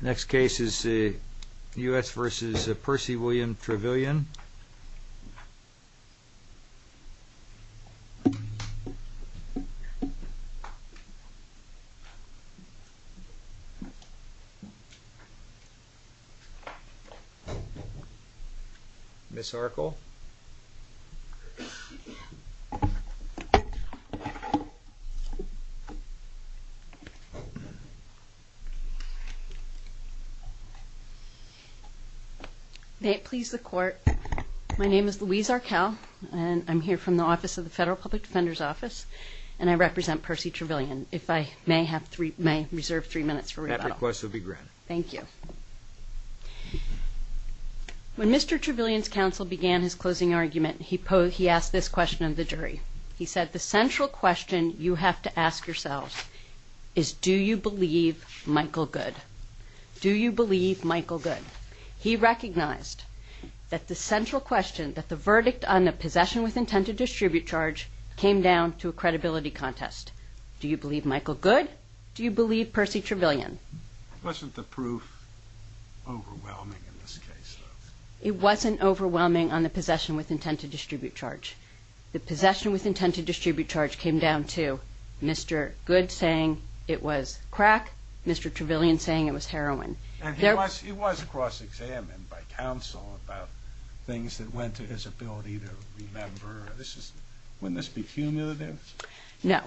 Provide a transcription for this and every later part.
The next case is the U.S. v. Percy William Travillion. Ms. Arkel. May it please the Court, my name is Louise Arkel, and I'm here from the Office of the Federal Public Defender's Office, and I represent Percy Travillion. If I may have three, may I reserve three minutes for rebuttal? That request will be granted. Thank you. When Mr. Travillion's counsel began his closing argument, he posed, he asked this question of the jury. He said, the central question you have to ask yourselves is, do you believe Michael Goode? Do you believe Michael Goode? He recognized that the central question, that the verdict on the possession with intent to distribute charge, came down to a credibility contest. Do you believe Michael Goode? Do you believe Percy Travillion? Wasn't the proof overwhelming in this case? It wasn't overwhelming on the possession with intent to distribute charge. The possession with intent to distribute charge came down to Mr. Goode saying it was crack, Mr. Travillion saying it was heroin. And he was cross-examined by counsel about things that went to his ability to remember. Wouldn't this be cumulative? No.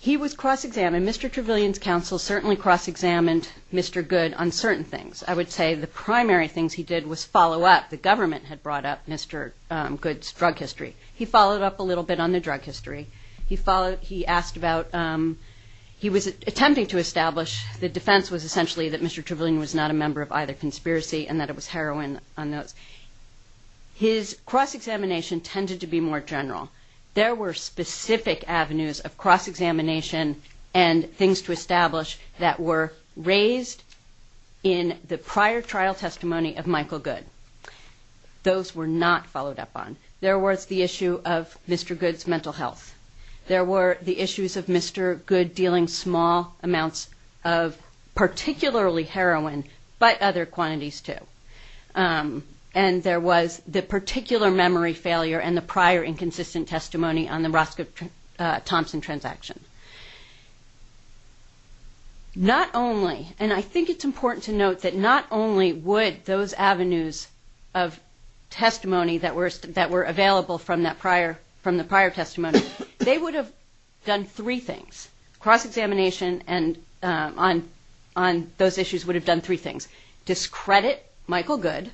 He was cross-examined. Mr. Travillion's counsel certainly cross-examined Mr. Goode on certain things. I would say the primary things he did was follow up. The government had brought up Mr. Goode's drug history. He followed up a little bit on the drug history. He followed, he asked about, he was attempting to establish the defense was essentially that Mr. Travillion was not a member of either conspiracy and that it was heroin on those. His cross-examination tended to be more general. There were specific avenues of cross-examination and things to establish that were raised in the prior trial testimony of Michael Goode. Those were not followed up on. There was the issue of Mr. Goode's mental health. There were the issues of Mr. Goode dealing small amounts of particularly heroin but other quantities too. And there was the particular memory failure and the prior inconsistent testimony on the Roscoe Thompson transaction. Not only, and I think it's important to note that not only would those avenues of testimony that were available from the prior testimony, they would have done three things, cross-examination and on those issues would have done three things, discredit Michael Goode,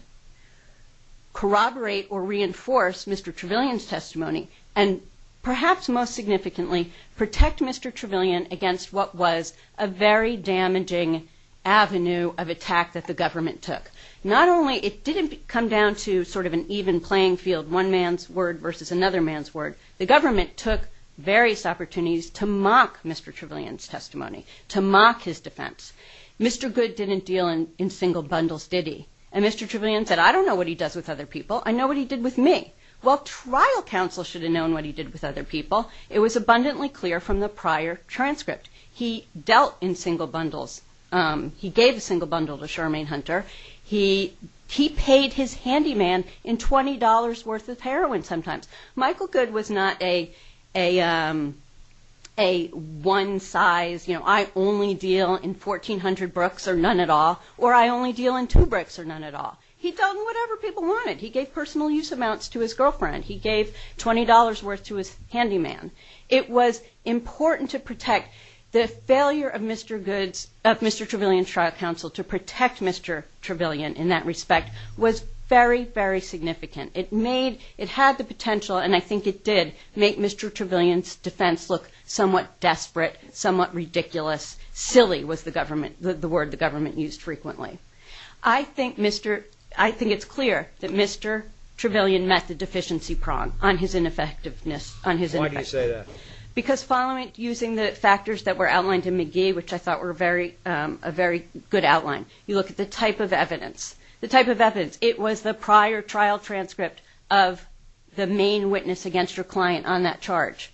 corroborate or reinforce Mr. Travillion's testimony and perhaps most significantly protect Mr. Travillion against what was a very damaging avenue of attack that the government took. Not only, it didn't come down to sort of an even playing field, one man's word versus another man's word. The government took various opportunities to mock Mr. Travillion's testimony, to mock his defense. Mr. Goode didn't deal in single bundles, did he? And Mr. Travillion said, I don't know what he does with other people. I know what he did with me. Well, trial counsel should have known what he did with other people. It was abundantly clear from the prior transcript. He dealt in single bundles. He gave a single bundle to Shermaine Hunter. He paid his handyman in $20 worth of heroin sometimes. Michael Goode was not a one size, you know, I only deal in 1,400 brooks or none at all or I only deal in two brooks or none at all. He dealt in whatever people wanted. He gave personal use amounts to his girlfriend. He gave $20 worth to his handyman. It was important to protect the failure of Mr. Goode's, of Mr. Travillion's trial counsel to protect Mr. Travillion in that respect was very, very significant. It made, it had the potential, and I think it did, make Mr. Travillion's defense look somewhat desperate, somewhat ridiculous, silly was the government, the word the government used frequently. I think Mr., I think it's clear that Mr. Travillion met the deficiency prong on his ineffectiveness, on his ineffectiveness. Why do you say that? Because following, using the factors that were outlined in McGee, which I thought were very, a very good outline, you look at the type of evidence, the type of evidence. It was the prior trial transcript of the main witness against your client on that charge.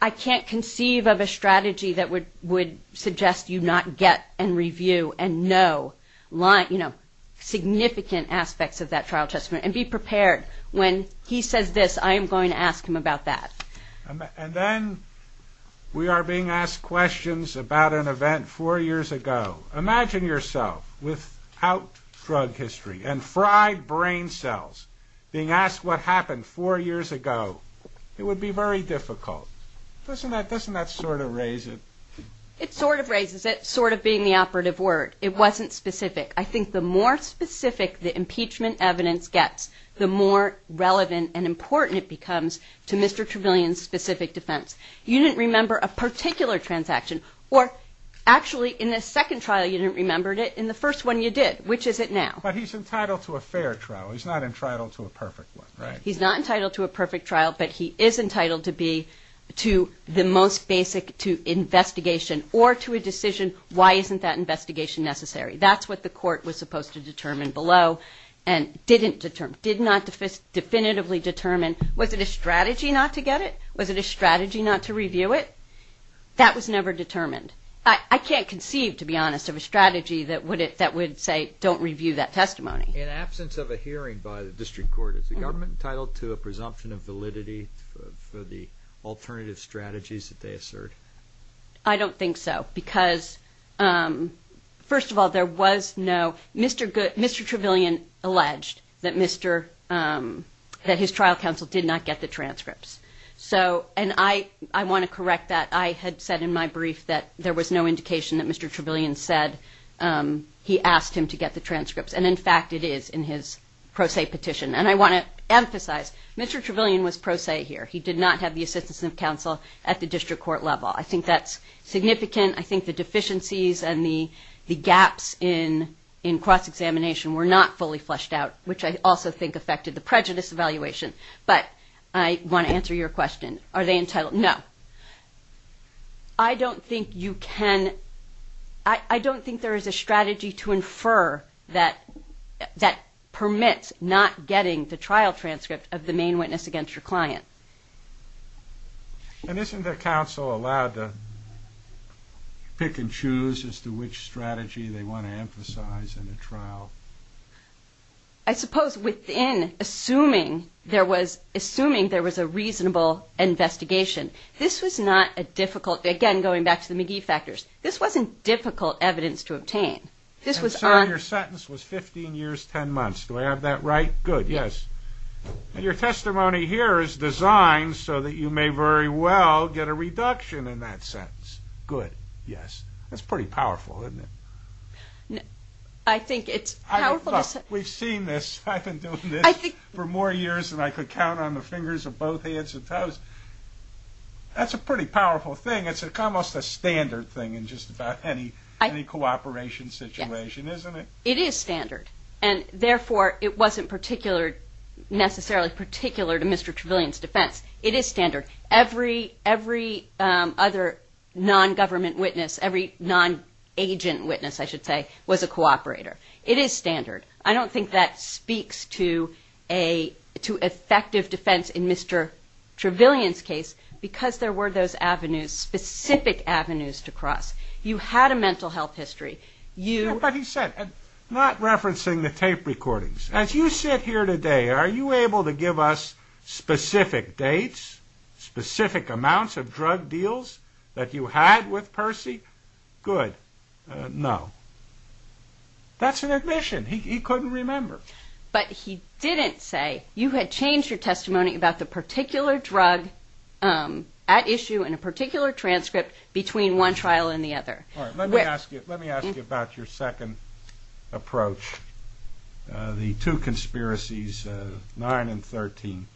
I can't conceive of a strategy that would suggest you not get and review and know, you know, significant aspects of that trial testimony and be prepared when he says this, I am going to ask him about that. And then we are being asked questions about an event four years ago. Imagine yourself without drug history and fried brain cells being asked what happened four years ago. It would be very difficult. Doesn't that, doesn't that sort of raise it? It sort of raises it, sort of being the operative word. It wasn't specific. I think the more specific the impeachment evidence gets, the more relevant and important it becomes to Mr. Travillion's specific defense. You didn't remember a particular transaction, or actually in the second trial you didn't remember it, in the first one you did. Which is it now? But he's entitled to a fair trial, he's not entitled to a perfect one, right? He's not entitled to a perfect trial, but he is entitled to be, to the most basic, to investigation or to a decision, why isn't that investigation necessary? That's what the court was supposed to determine below and didn't determine, did not definitively determine, was it a strategy not to get it? Was it a strategy not to review it? That was never determined. I can't conceive, to be honest, of a strategy that would say don't review that testimony. In absence of a hearing by the district court, is the government entitled to a presumption of validity for the alternative strategies that they assert? I don't think so, because first of all, there was no, Mr. Travillion alleged that Mr., that his trial counsel did not get the transcripts, so, and I want to correct that, I had said in my brief that there was no indication that Mr. Travillion said he asked him to get the transcripts. And in fact, it is in his pro se petition. And I want to emphasize, Mr. Travillion was pro se here. He did not have the assistance of counsel at the district court level. I think that's significant. I think the deficiencies and the gaps in cross-examination were not fully fleshed out, which I also think affected the prejudice evaluation. But I want to answer your question, are they entitled, no. I don't think you can, I don't think there is a strategy to infer that, that permits not getting the trial transcript of the main witness against your client. And isn't the counsel allowed to pick and choose as to which strategy they want to emphasize in a trial? I suppose within, assuming there was a reasonable investigation, this was not a difficult, again going back to the McGee factors, this wasn't difficult evidence to obtain. This was on. And so your sentence was 15 years, 10 months, do I have that right? Good, yes. And your testimony here is designed so that you may very well get a reduction in that sentence. Good, yes. That's pretty powerful, isn't it? No, I think it's powerful to say... We've seen this, I've been doing this for more years than I could count on the fingers of both hands and toes. That's a pretty powerful thing. It's almost a standard thing in just about any cooperation situation, isn't it? It is standard. And therefore it wasn't necessarily particular to Mr. Trevelyan's defense. It is standard. Every other non-government witness, every non-agent witness, I should say, was a cooperator. It is standard. I don't think that speaks to effective defense in Mr. Trevelyan's case because there were those avenues, specific avenues to cross. You had a mental health history. But he said, not referencing the tape recordings, as you sit here today, are you able to give us specific dates, specific amounts of drug deals that you had with Percy? Good, no. That's an admission. He couldn't remember. But he didn't say, you had changed your testimony about the particular drug at issue in a particular transcript between one trial and the other. Let me ask you about your second approach, the two conspiracies, 9 and 13.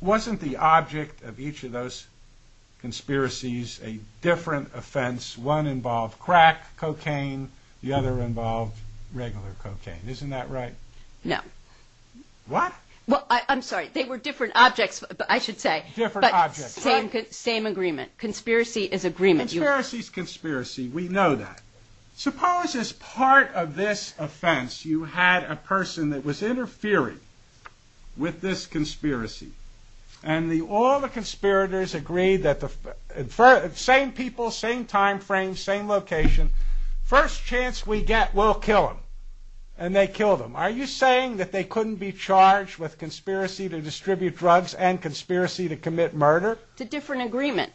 Wasn't the object of each of those conspiracies a different offense? One involved crack, cocaine. The other involved regular cocaine. Isn't that right? No. What? Well, I'm sorry. They were different objects, I should say. Different objects. But same agreement. Conspiracy is agreement. Conspiracy is conspiracy. We know that. Suppose, as part of this offense, you had a person that was interfering with this conspiracy. And all the conspirators agreed that the same people, same time frame, same location. First chance we get, we'll kill them. And they killed him. Are you saying that they couldn't be charged with conspiracy to distribute drugs and conspiracy to commit murder? It's a different agreement.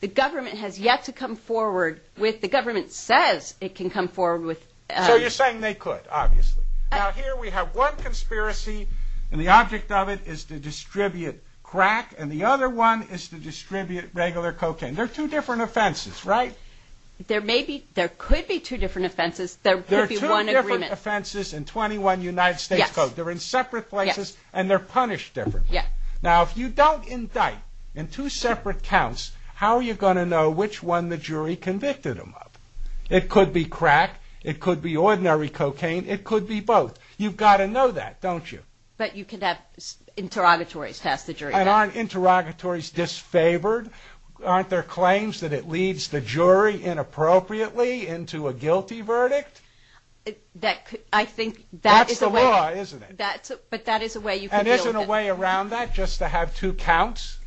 The government has yet to come forward with, the government says it can come forward with... So you're saying they could, obviously. Now here we have one conspiracy, and the object of it is to distribute crack, and the other one is to distribute regular cocaine. They're two different offenses, right? There may be, there could be two different offenses. There could be one agreement. There are two different offenses in 21 United States codes. They're in separate places, and they're punished differently. Now if you don't indict in two separate counts, how are you going to know which one the jury convicted them of? It could be crack. It could be ordinary cocaine. It could be both. You've got to know that, don't you? But you can have interrogatories pass the jury. Aren't interrogatories disfavored? Aren't there claims that it leads the jury inappropriately into a guilty verdict? I think that is the way... That's the law, isn't it? But that is a way you can deal with it. Isn't there a way around that, just to have two counts?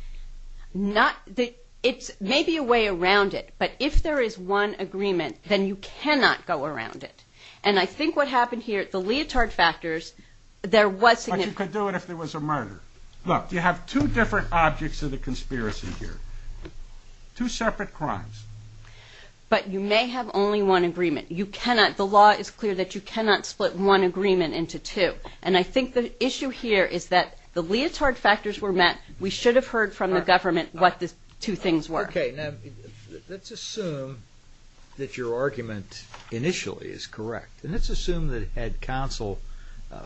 It's maybe a way around it, but if there is one agreement, then you cannot go around it. And I think what happened here at the Leotard Factors, there was... But you could do it if there was a murder. Look, you have two different objects of the conspiracy here, two separate crimes. But you may have only one agreement. You cannot, the law is clear that you cannot split one agreement into two. And I think the issue here is that the Leotard Factors were met. We should have heard from the government what the two things were. Okay, now let's assume that your argument initially is correct. And let's assume that had counsel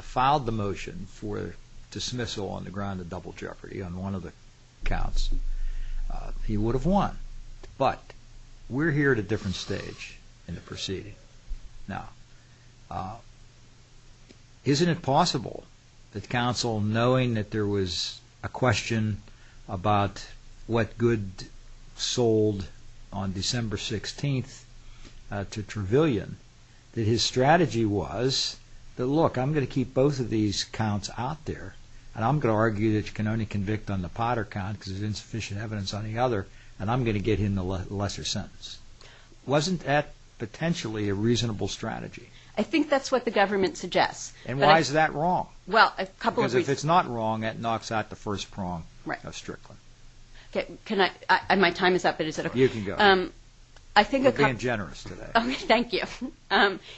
filed the motion for dismissal on the ground of double jeopardy on one of the counts, he would have won. But we're here at a different stage in the proceeding now. Isn't it possible that counsel, knowing that there was a question about what good sold on December 16th to Trevelyan, that his strategy was that, look, I'm going to keep both of these counts out there, and I'm going to argue that you can only convict on the Potter count because there's insufficient evidence on the other, and I'm going to get him the lesser sentence. Wasn't that potentially a reasonable strategy? I think that's what the government suggests. And why is that wrong? Well, a couple of reasons. Because if it's not wrong, it knocks out the first prong of Strickland. Okay, can I, my time is up, but is it okay? You can go. I think a couple. You're being generous today. Okay, thank you.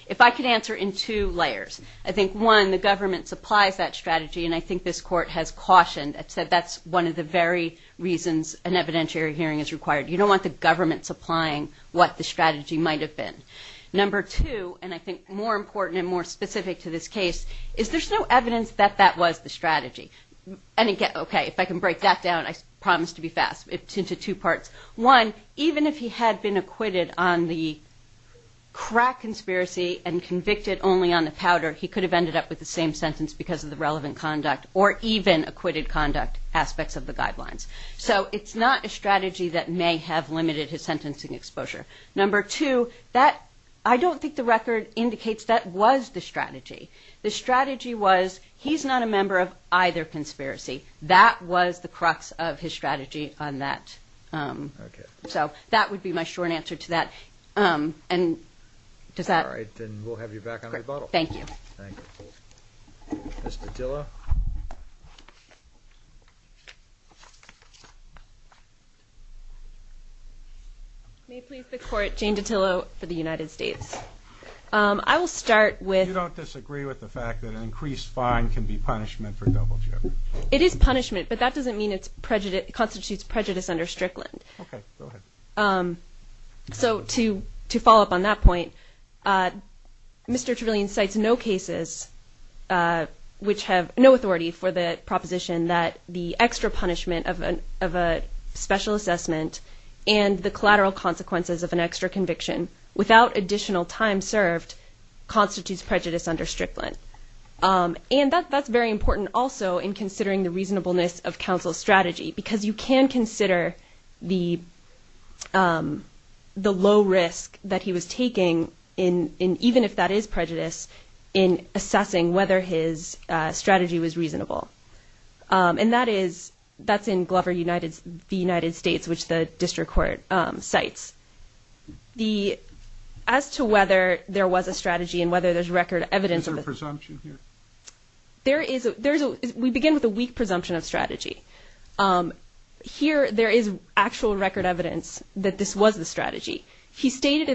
If I could answer in two layers. I think, one, the government supplies that strategy, and I think this court has cautioned. It said that's one of the very reasons an evidentiary hearing is required. You don't want the government supplying what the strategy might have been. Number two, and I think more important and more specific to this case, is there's no evidence that that was the strategy. And again, okay, if I can break that down, I promise to be fast, into two parts. One, even if he had been acquitted on the crack conspiracy and convicted only on the powder, he could have ended up with the same sentence because of the relevant conduct or even acquitted conduct aspects of the guidelines. So it's not a strategy that may have limited his sentencing exposure. Number two, that, I don't think the record indicates that was the strategy. The strategy was, he's not a member of either conspiracy. That was the crux of his strategy on that. Okay. So that would be my short answer to that. And does that. All right, then we'll have you back on rebuttal. Thank you. Thank you. Mr. Dilla. May it please the court, Jane DiTillo for the United States. I will start with. You don't disagree with the fact that an increased fine can be punishment for double jeopardy? It is punishment, but that doesn't mean it constitutes prejudice under Strickland. Okay, go ahead. So to follow up on that point, Mr. Trevelyan cites no cases which have no authority for the proposition that the extra punishment of a special assessment and the collateral consequences of an extra conviction without additional time served constitutes prejudice under Strickland. And that's very important also in considering the reasonableness of counsel's strategy because you can consider the low risk that he was taking in, even if that is prejudice, in assessing whether his strategy was reasonable. And that is, that's in Glover United, the United States, which the district court cites. As to whether there was a strategy and whether there's record evidence. Is there a presumption here? There is, we begin with a weak presumption of strategy. He stated at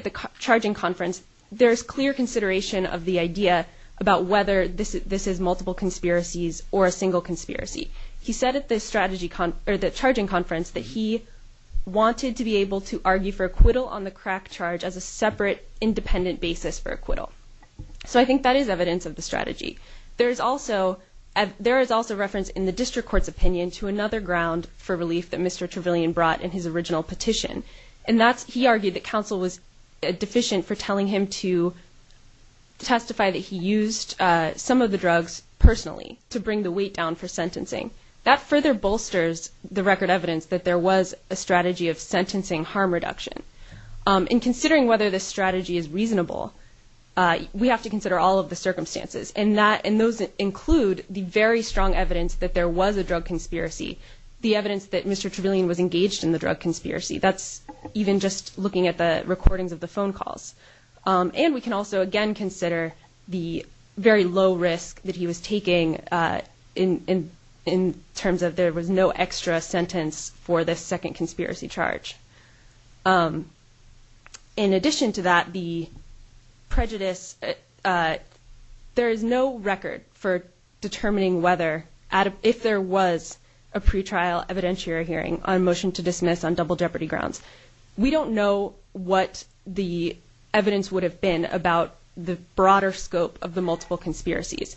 the charging conference, there's clear consideration of the idea about whether this is multiple conspiracies or a single conspiracy. He said at the charging conference that he wanted to be able to argue for acquittal on the crack charge as a separate, independent basis for acquittal. So I think that is evidence of the strategy. There is also reference in the district court's opinion to another ground for relief that Mr. Trevelyan brought in his original petition. And that's, he argued that counsel was deficient for telling him to testify that he used some of the drugs personally to bring the weight down for sentencing. That further bolsters the record evidence that there was a strategy of sentencing harm reduction. In considering whether this strategy is reasonable, we have to consider all of the circumstances. And that, and those include the very strong evidence that there was a drug conspiracy. The evidence that Mr. Trevelyan was engaged in the drug conspiracy. That's even just looking at the recordings of the phone calls. And we can also, again, consider the very low risk that he was taking in terms of there was no extra sentence for this second conspiracy charge. In addition to that, the prejudice, there is no record for determining whether, if there was a pretrial evidentiary hearing on motion to dismiss on double jeopardy grounds, we don't know what the evidence would have been about the broader scope of the multiple conspiracies.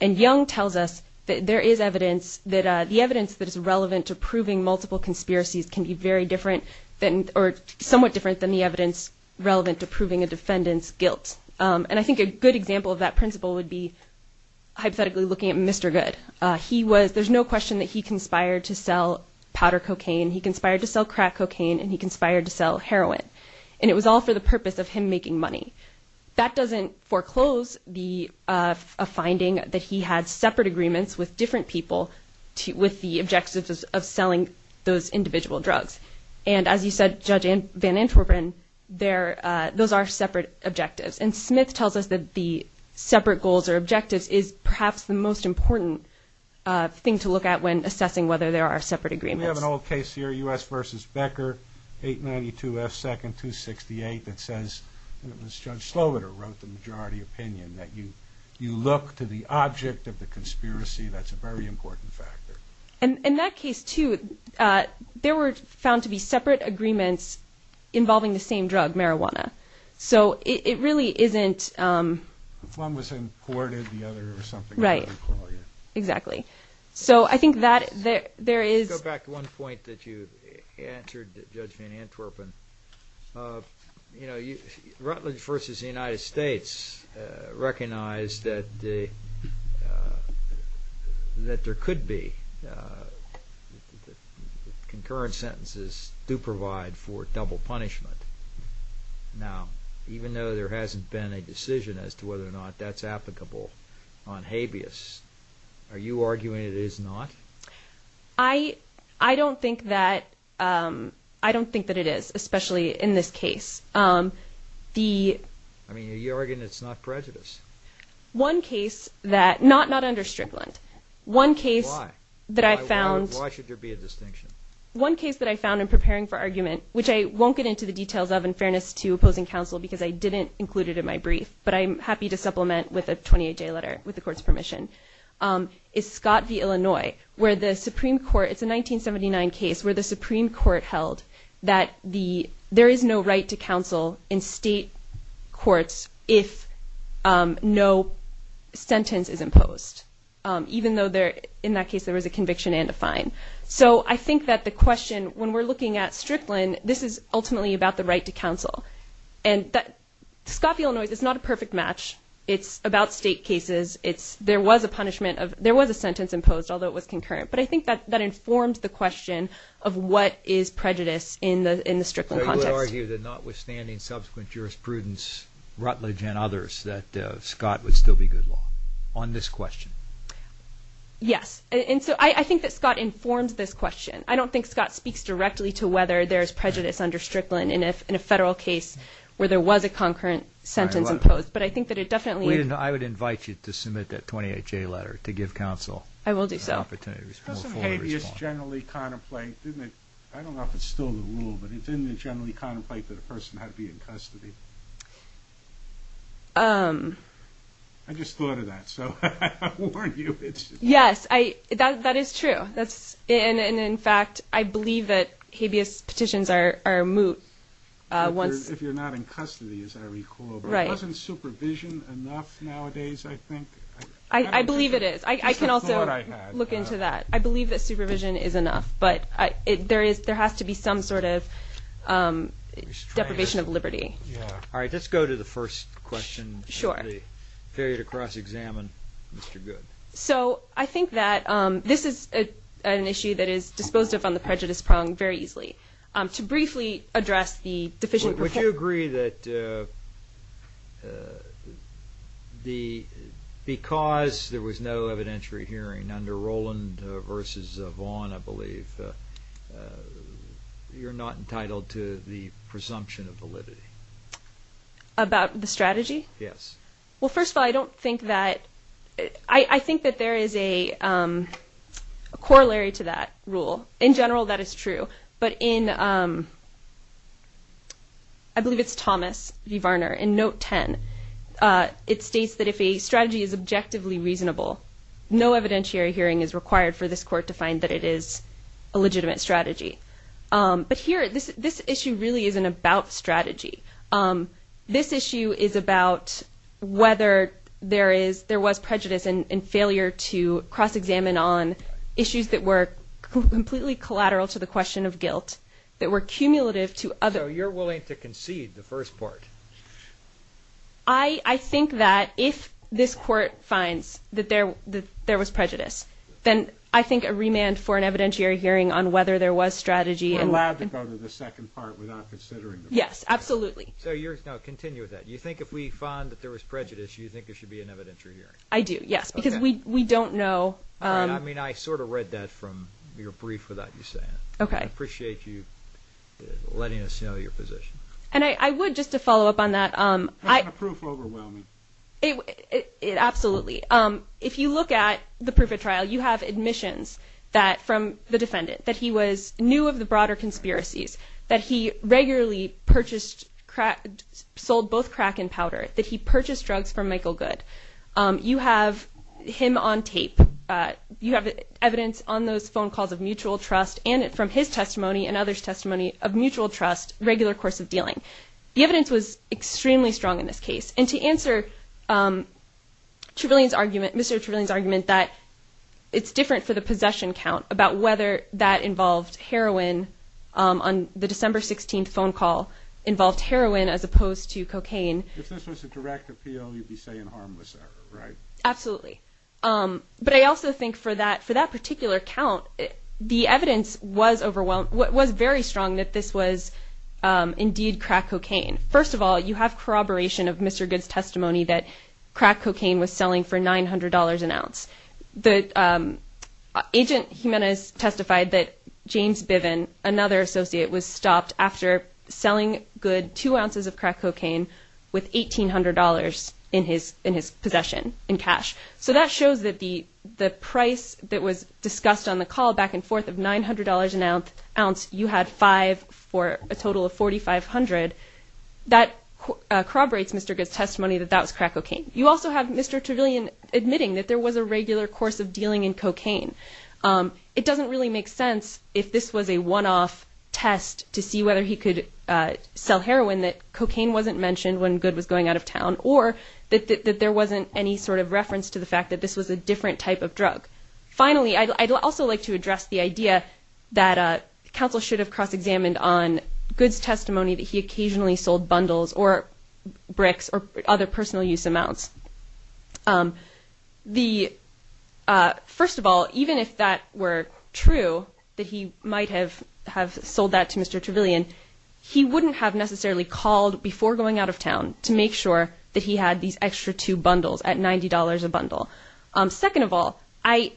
And Young tells us that there is evidence that, the evidence that is relevant to proving multiple conspiracies can be very different than, or somewhat different than the evidence relevant to proving a defendant's guilt. And I think a good example of that principle would be hypothetically looking at Mr. Goode. He was, there's no question that he conspired to sell powder cocaine. He conspired to sell crack cocaine. And he conspired to sell heroin. And it was all for the purpose of him making money. That doesn't foreclose the, a finding that he had separate agreements with different people to, with the objectives of selling those individual drugs. And as you said, Judge Van Antwerpen, there, those are separate objectives. And Smith tells us that the separate goals or objectives is perhaps the most important thing to look at when assessing whether there are separate agreements. We have an old case here, U.S. versus Becker, 892 F. 2nd, 268, that says, and it was Judge Sloboda who wrote the majority opinion, that you, you look to the object of the conspiracy. That's a very important factor. And in that case, too, there were found to be separate agreements involving the same drug, marijuana, so it really isn't. If one was imported, the other or something. Right, exactly. So I think that there is. I want to go back to one point that you answered, Judge Van Antwerpen. You know, Rutledge versus the United States recognized that the, that there could be, concurrent sentences do provide for double punishment. Now, even though there hasn't been a decision as to whether or not that's applicable on habeas, are you arguing it is not? I, I don't think that, I don't think that it is, especially in this case. The. I mean, are you arguing it's not prejudice? One case that, not, not under Strickland. One case that I found. Why should there be a distinction? One case that I found in preparing for argument, which I won't get into the details of, in fairness to opposing counsel, because I didn't include it in my brief, but I'm happy to supplement with a 28-day letter with the court's permission, is Scott v. Illinois, where the Supreme Court, it's a 1979 case, where the Supreme Court held that the, there is no right to counsel in state courts if no sentence is imposed, even though there, in that case, there was a conviction and a fine. So I think that the question, when we're looking at Strickland, this is ultimately about the right to counsel. And that, Scott v. Illinois, it's not a perfect match. It's about state cases. It's, there was a punishment of, there was a sentence imposed, although it was concurrent. But I think that, that informs the question of what is prejudice in the, in the Strickland context. I would argue that notwithstanding subsequent jurisprudence, Rutledge and others, that Scott would still be good law on this question. Yes. And so I, I think that Scott informs this question. I don't think Scott speaks directly to whether there's prejudice under Strickland in a, in a federal case where there was a concurrent sentence imposed. But I think that it definitely. I would invite you to submit that 28-J letter to give counsel. I will do so. An opportunity to respond. Doesn't habeas generally contemplate, didn't it, I don't know if it's still the rule, but didn't it generally contemplate that a person had to be in custody? I just thought of that. So I warn you, it's. Yes. I, that, that is true. That's, and, and in fact, I believe that habeas petitions are, are moot. Once. If you're not in custody, as I recall. Right. Isn't supervision enough nowadays? I think I, I believe it is. I can also look into that. I believe that supervision is enough, but I, it, there is, there has to be some sort of deprivation of liberty. All right. Let's go to the first question. Sure. Period across examine Mr. Good. So I think that this is an issue that is disposed of on the prejudice prong very easily to briefly address the deficient. Would you agree that the, because there was no evidentiary hearing under Roland versus Vaughn, I believe you're not entitled to the presumption of validity. About the strategy? Yes. Well, first of all, I don't think that I think that there is a corollary to that rule in general. That is true. But in I believe it's Thomas V Varner in note 10 it states that if a strategy is objectively reasonable, no evidentiary hearing is required for this court to find that it is a legitimate strategy. But here, this, this issue really isn't about strategy. Um, this issue is about whether there is, there was prejudice and failure to cross examine on issues that were completely collateral to the question of guilt that were cumulative to other. You're willing to concede the first part. I think that if this court finds that there, that there was prejudice, then I think a remand for an evidentiary hearing on whether there was strategy and allowed to go to the second part without considering. Yes, absolutely. So you're going to continue with that. You think if we find that there was prejudice, you think there should be an evidentiary hearing? I do. Yes. Because we, we don't know. Um, I mean, I sort of read that from your brief without you saying, okay, appreciate you letting us know your position. And I, I would just to follow up on that. Um, I, it absolutely. Um, if you look at the proof of trial, you have admissions that from the defendant that he was new of the broader conspiracies that he regularly. Purchased cracked, sold both crack and powder that he purchased drugs from Michael. Good. Um, you have him on tape, uh, you have evidence on those phone calls of mutual trust and from his testimony and other's testimony of mutual trust, regular course of dealing. The evidence was extremely strong in this case. And to answer, um, Travolian's argument, Mr. Travolian's argument that it's different for the possession count about whether that involved heroin, um, on the December 16th phone call involved heroin as opposed to cocaine. If this was a direct appeal, you'd be saying harmless error, right? Absolutely. Um, but I also think for that, for that particular count, the evidence was overwhelmed. What was very strong that this was, um, indeed crack cocaine. First of all, you have corroboration of Mr. Good's testimony that crack cocaine was selling for $900 an ounce. The, um, agent Jimenez testified that James Biven, another associate was stopped after selling good two ounces of crack cocaine with $1,800 in his, in his possession in cash. So that shows that the, the price that was discussed on the call back and forth of $900 an ounce, you had five for a total of 4,500. That corroborates Mr. Good's testimony that that was crack cocaine. You also have Mr. Travolian admitting that there was a regular course of dealing in cocaine. Um, it doesn't really make sense if this was a one-off test to see whether he could, uh, sell heroin that cocaine wasn't mentioned when good was going out of town or that, that, that there wasn't any sort of reference to the fact that this was a different type of drug. Finally, I'd also like to address the idea that, uh, counsel should have cross-examined on goods testimony that he occasionally sold bundles or bricks or other personal use amounts. Um, the, uh, first of all, even if that were true that he might have, have sold that to Mr. Travolian, he wouldn't have necessarily called before going out of town to make sure that he had these extra two bundles at $90 a bundle. Um, second of all, I,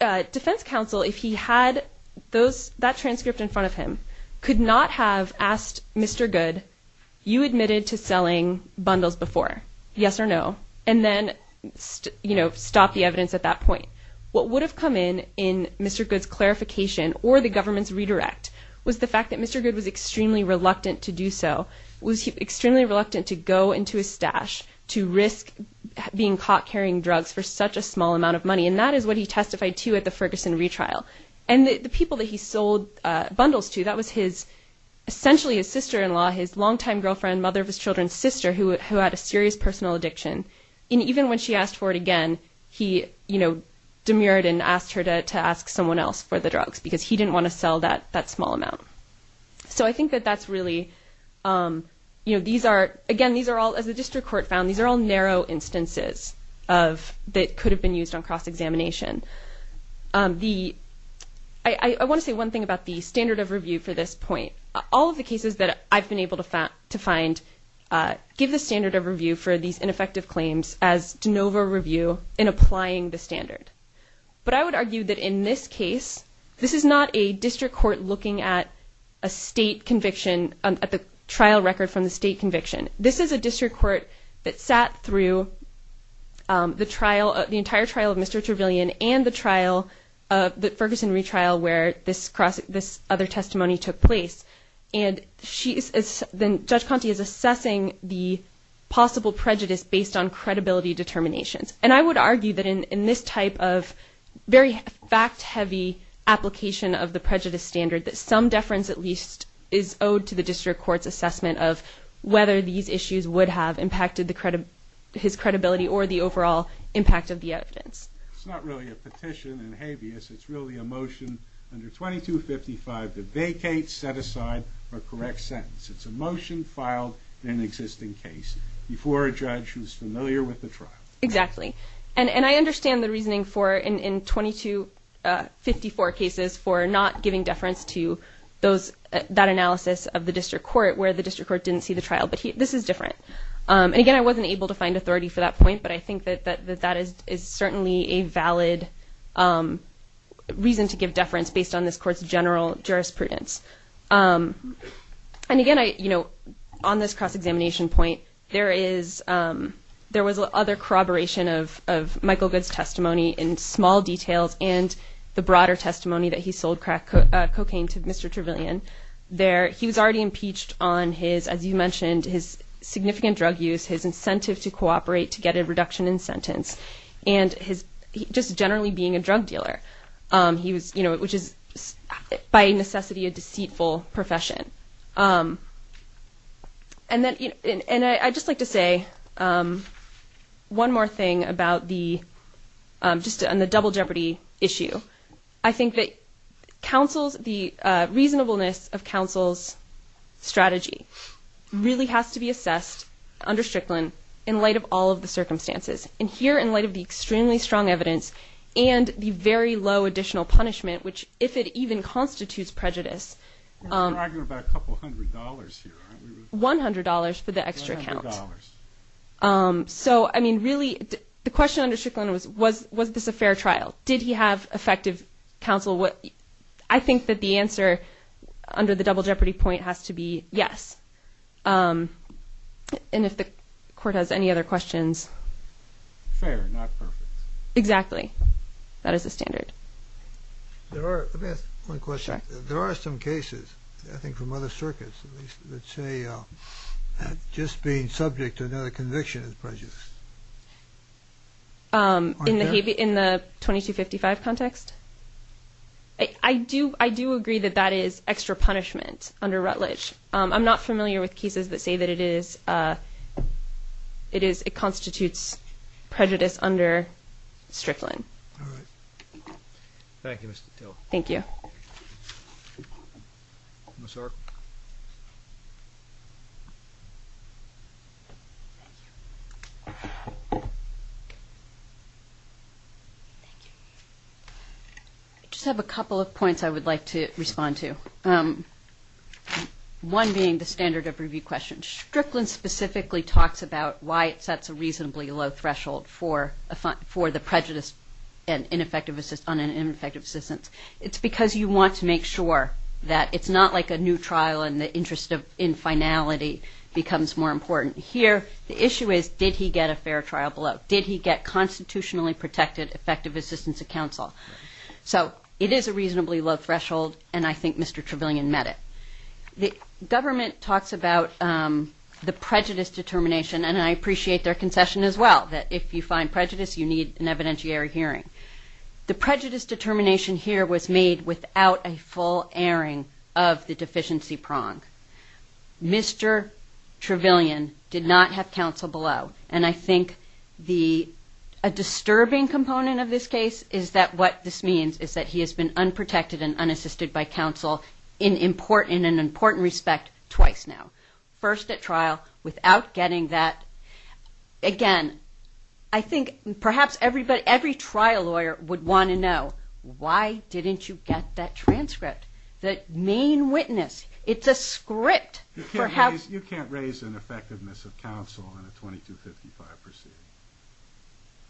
uh, defense counsel, if he had those, that transcript in front of him could not have asked Mr. Good, you admitted to selling bundles before yes or no, and then, you know, stop the evidence at that point, what would have come in in Mr. Good's clarification or the government's redirect was the fact that Mr. Good was extremely reluctant to do so. Was he extremely reluctant to go into his stash to risk being caught carrying drugs for such a small amount of money? And that is what he testified to at the Ferguson retrial and the people that he sold bundles to. That was his essentially a sister-in-law, his longtime girlfriend, mother of his children's sister who had a serious personal addiction. And even when she asked for it again, he, you know, demurred and asked her to, to ask someone else for the drugs because he didn't want to sell that, that small amount. So I think that that's really, um, you know, these are, again, these are all, as the district court found, these are all narrow instances of that could have been used on cross-examination. The, I want to say one thing about the standard of review for this point, all of the cases that I've been able to find, to find, uh, give the standard of review for these ineffective claims as de novo review in applying the standard. But I would argue that in this case, this is not a district court looking at a state conviction, at the trial record from the state conviction. This is a district court that sat through, um, the trial, the entire trial of Mr. Trevelyan and the trial of the Ferguson retrial where this cross, this other testimony took place. And she is, then Judge Conte is assessing the possible prejudice based on credibility determinations. And I would argue that in, in this type of very fact heavy application of the prejudice standard, that some deference at least is owed to the district court's assessment of whether these issues would have impacted the credit, his credibility, or the overall impact of the evidence. It's not really a petition and habeas. It's really a motion under 2255 to vacate, set aside, or correct sentence. It's a motion filed in an existing case before a judge who's familiar with the trial. Exactly. And, and I understand the reasoning for in, in 2254 cases for not giving deference to those, that analysis of the district court where the district court didn't see the trial, but this is different. Um, and again, I wasn't able to find authority for that point, but I think that, that, that that is, is certainly a valid, um, reason to give deference based on this court's general jurisprudence. Um, and again, I, you know, on this cross-examination point, there is, um, there was other corroboration of, of Michael Goode's testimony in small details and the broader testimony that he sold crack, uh, cocaine to Mr. Trevelyan. There, he was already impeached on his, as you mentioned, his significant drug use, his incentive to cooperate, to get a reduction in sentence, and his just generally being a drug dealer. Um, he was, you know, which is by necessity a deceitful profession. Um, and then, and I, I just like to say, um, one more thing about the, um, just on the double jeopardy issue. I think that counsel's, the, uh, reasonableness of counsel's strategy really has to be assessed under Strickland in light of all of the circumstances. And here, in light of the extremely strong evidence and the very low additional punishment, which, if it even constitutes prejudice, um, $100 for the extra account. Um, so, I mean, really the question under Strickland was, was, was this a fair trial? Did he have effective counsel? What I think that the answer under the double jeopardy point has to be yes. Um, and if the court has any other questions. Fair, not perfect. Exactly. That is a standard. There are, let me ask one question. There are some cases, I think from other circuits, let's say, uh, just being subject to another conviction is prejudice. Um, in the, in the 2255 context. I do, I do agree that that is extra punishment under Rutledge. Um, I'm not familiar with cases that say that it is, uh, it is, it constitutes prejudice under Strickland. Thank you, Mr. Taylor. Thank you. I just have a couple of points I would like to respond to. Um, one being the standard of review question. Strickland specifically talks about why it sets a reasonably low threshold for, for the prejudice and ineffective, on an ineffective assistance. It's because you want to make sure that it's not like a new trial and the interest of, in finality becomes more important. Here, the issue is, did he get a fair trial below? Did he get constitutionally protected effective assistance of counsel? So it is a reasonably low threshold and I think Mr. Trevelyan met it. The government talks about, um, the prejudice determination and I appreciate their concession as well, that if you find prejudice, you need an evidentiary hearing. The prejudice determination here was made without a full airing of the deficiency prong. Mr. Trevelyan did not have counsel below. And I think the, a disturbing component of this case is that what this means is that he has been unprotected and unassisted by counsel in important, in an important respect twice now. First at trial without getting that. Again, I think perhaps everybody, every trial lawyer would want to know, why didn't you get that transcript? That main witness, it's a script. You can't raise ineffectiveness of counsel in a 2255 proceeding.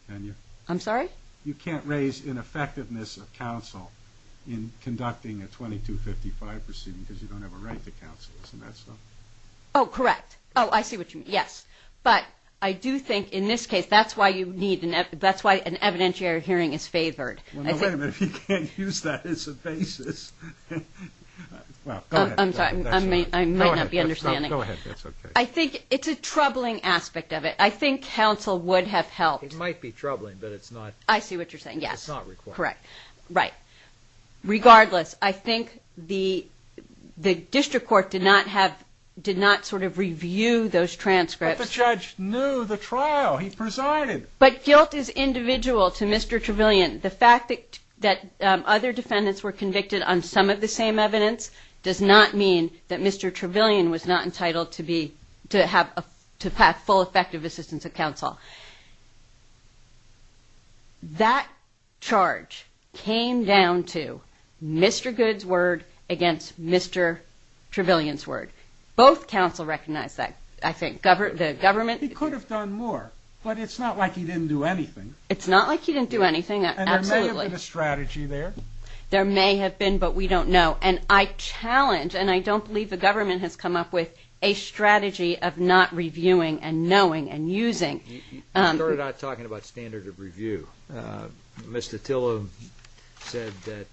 Can you? I'm sorry? You can't raise ineffectiveness of counsel in conducting a 2255 proceeding because you don't have a right to counsel. Isn't that so? Oh, correct. Oh, I see what you mean. Yes. But I do think in this case, that's why you need an evidentiary hearing is favored. Well, no, wait a minute. If you can't use that as a basis. Well, go ahead. I'm sorry, I might not be understanding. I think it's a troubling aspect of it. I think counsel would have helped. It might be troubling, but it's not. I see what you're saying. Yes. It's not required. Correct. Right. Regardless, I think the, the district court did not have, did not sort of review those transcripts. But the judge knew the trial he presided. But guilt is individual to Mr. Trevelyan. The fact that, that other defendants were convicted on some of the same evidence does not mean that Mr. Trevelyan was not entitled to be, to have a, to have full effective assistance of counsel. That charge came down to Mr. Good's word against Mr. Trevelyan's word. Both counsel recognize that. I think government, the government. He could have done more, but it's not like he didn't do anything. It's not like he didn't do anything. And there may have been a strategy there. There may have been, but we don't know. And I challenge, and I don't believe the government has come up with a strategy of not reviewing and knowing and using. You started out talking about standard of review. Mr. Tillow said that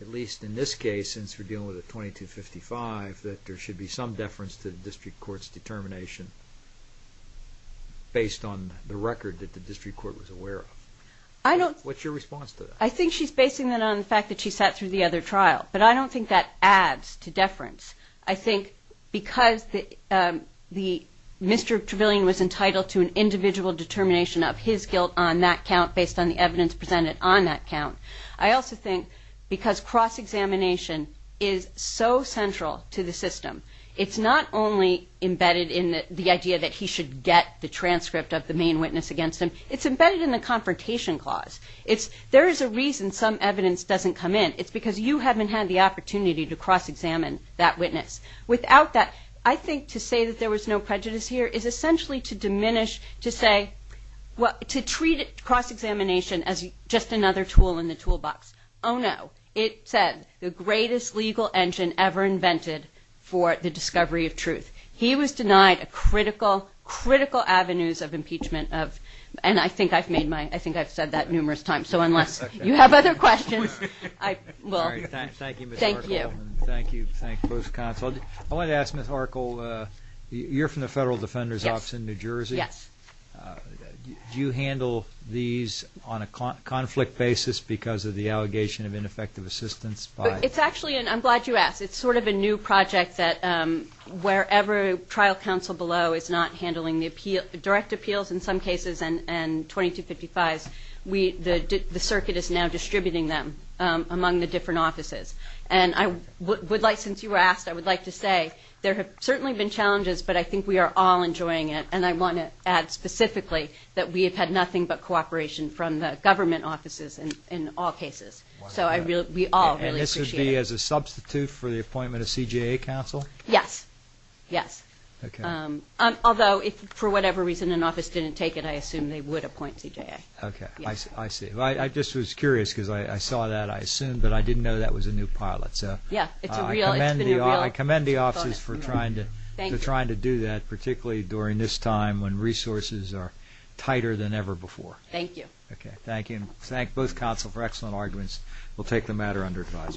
at least in this case, since we're dealing with a 2255, that there should be some deference to the district court's determination based on the record that the district court was aware of. I don't. What's your response to that? I think she's basing that on the fact that she sat through the other trial, but I don't think that adds to deference. I think because the Mr. Trevelyan was entitled to an individual determination of his guilt on that count, based on the evidence presented on that count. I also think because cross-examination is so central to the system, it's not only embedded in the idea that he should get the transcript of the main witness against him. It's embedded in the confrontation clause. It's, there is a reason some evidence doesn't come in. It's because you haven't had the opportunity to cross-examine that witness. Without that, I think to say that there was no prejudice here is essentially to diminish, to say, to treat cross-examination as just another tool in the toolbox. Oh no. He was denied a critical, critical avenues of impeachment of, and I think I've made my, I think I've said that numerous times. So unless you have other questions, I will. Thank you, Ms. Arkel. Thank you. Thank you, both counsel. I want to ask Ms. Arkel, you're from the Federal Defender's Office in New Jersey. Yes. Do you handle these on a conflict basis because of the allegation of ineffective assistance? It's actually, and I'm glad you asked. It's sort of a new project that wherever trial counsel below is not handling the direct appeals in some cases and 2255s, the circuit is now distributing them among the different offices. And I would like, since you were asked, I would like to say there have certainly been challenges, but I think we are all enjoying it. And I want to add specifically that we have had nothing but cooperation from the government offices in all cases. So I really, we all really appreciate it. And this would be as a substitute for the appointment of CJA counsel? Yes. Yes. Okay. Although if for whatever reason an office didn't take it, I assume they would appoint CJA. Okay. I see. I just was curious because I saw that, I assume, but I didn't know that was a new pilot. So I commend the offices for trying to do that, particularly during this time when resources are tighter than ever before. Thank you. Okay. Thank you. Thank both counsel for excellent arguments. We'll take the matter under advise.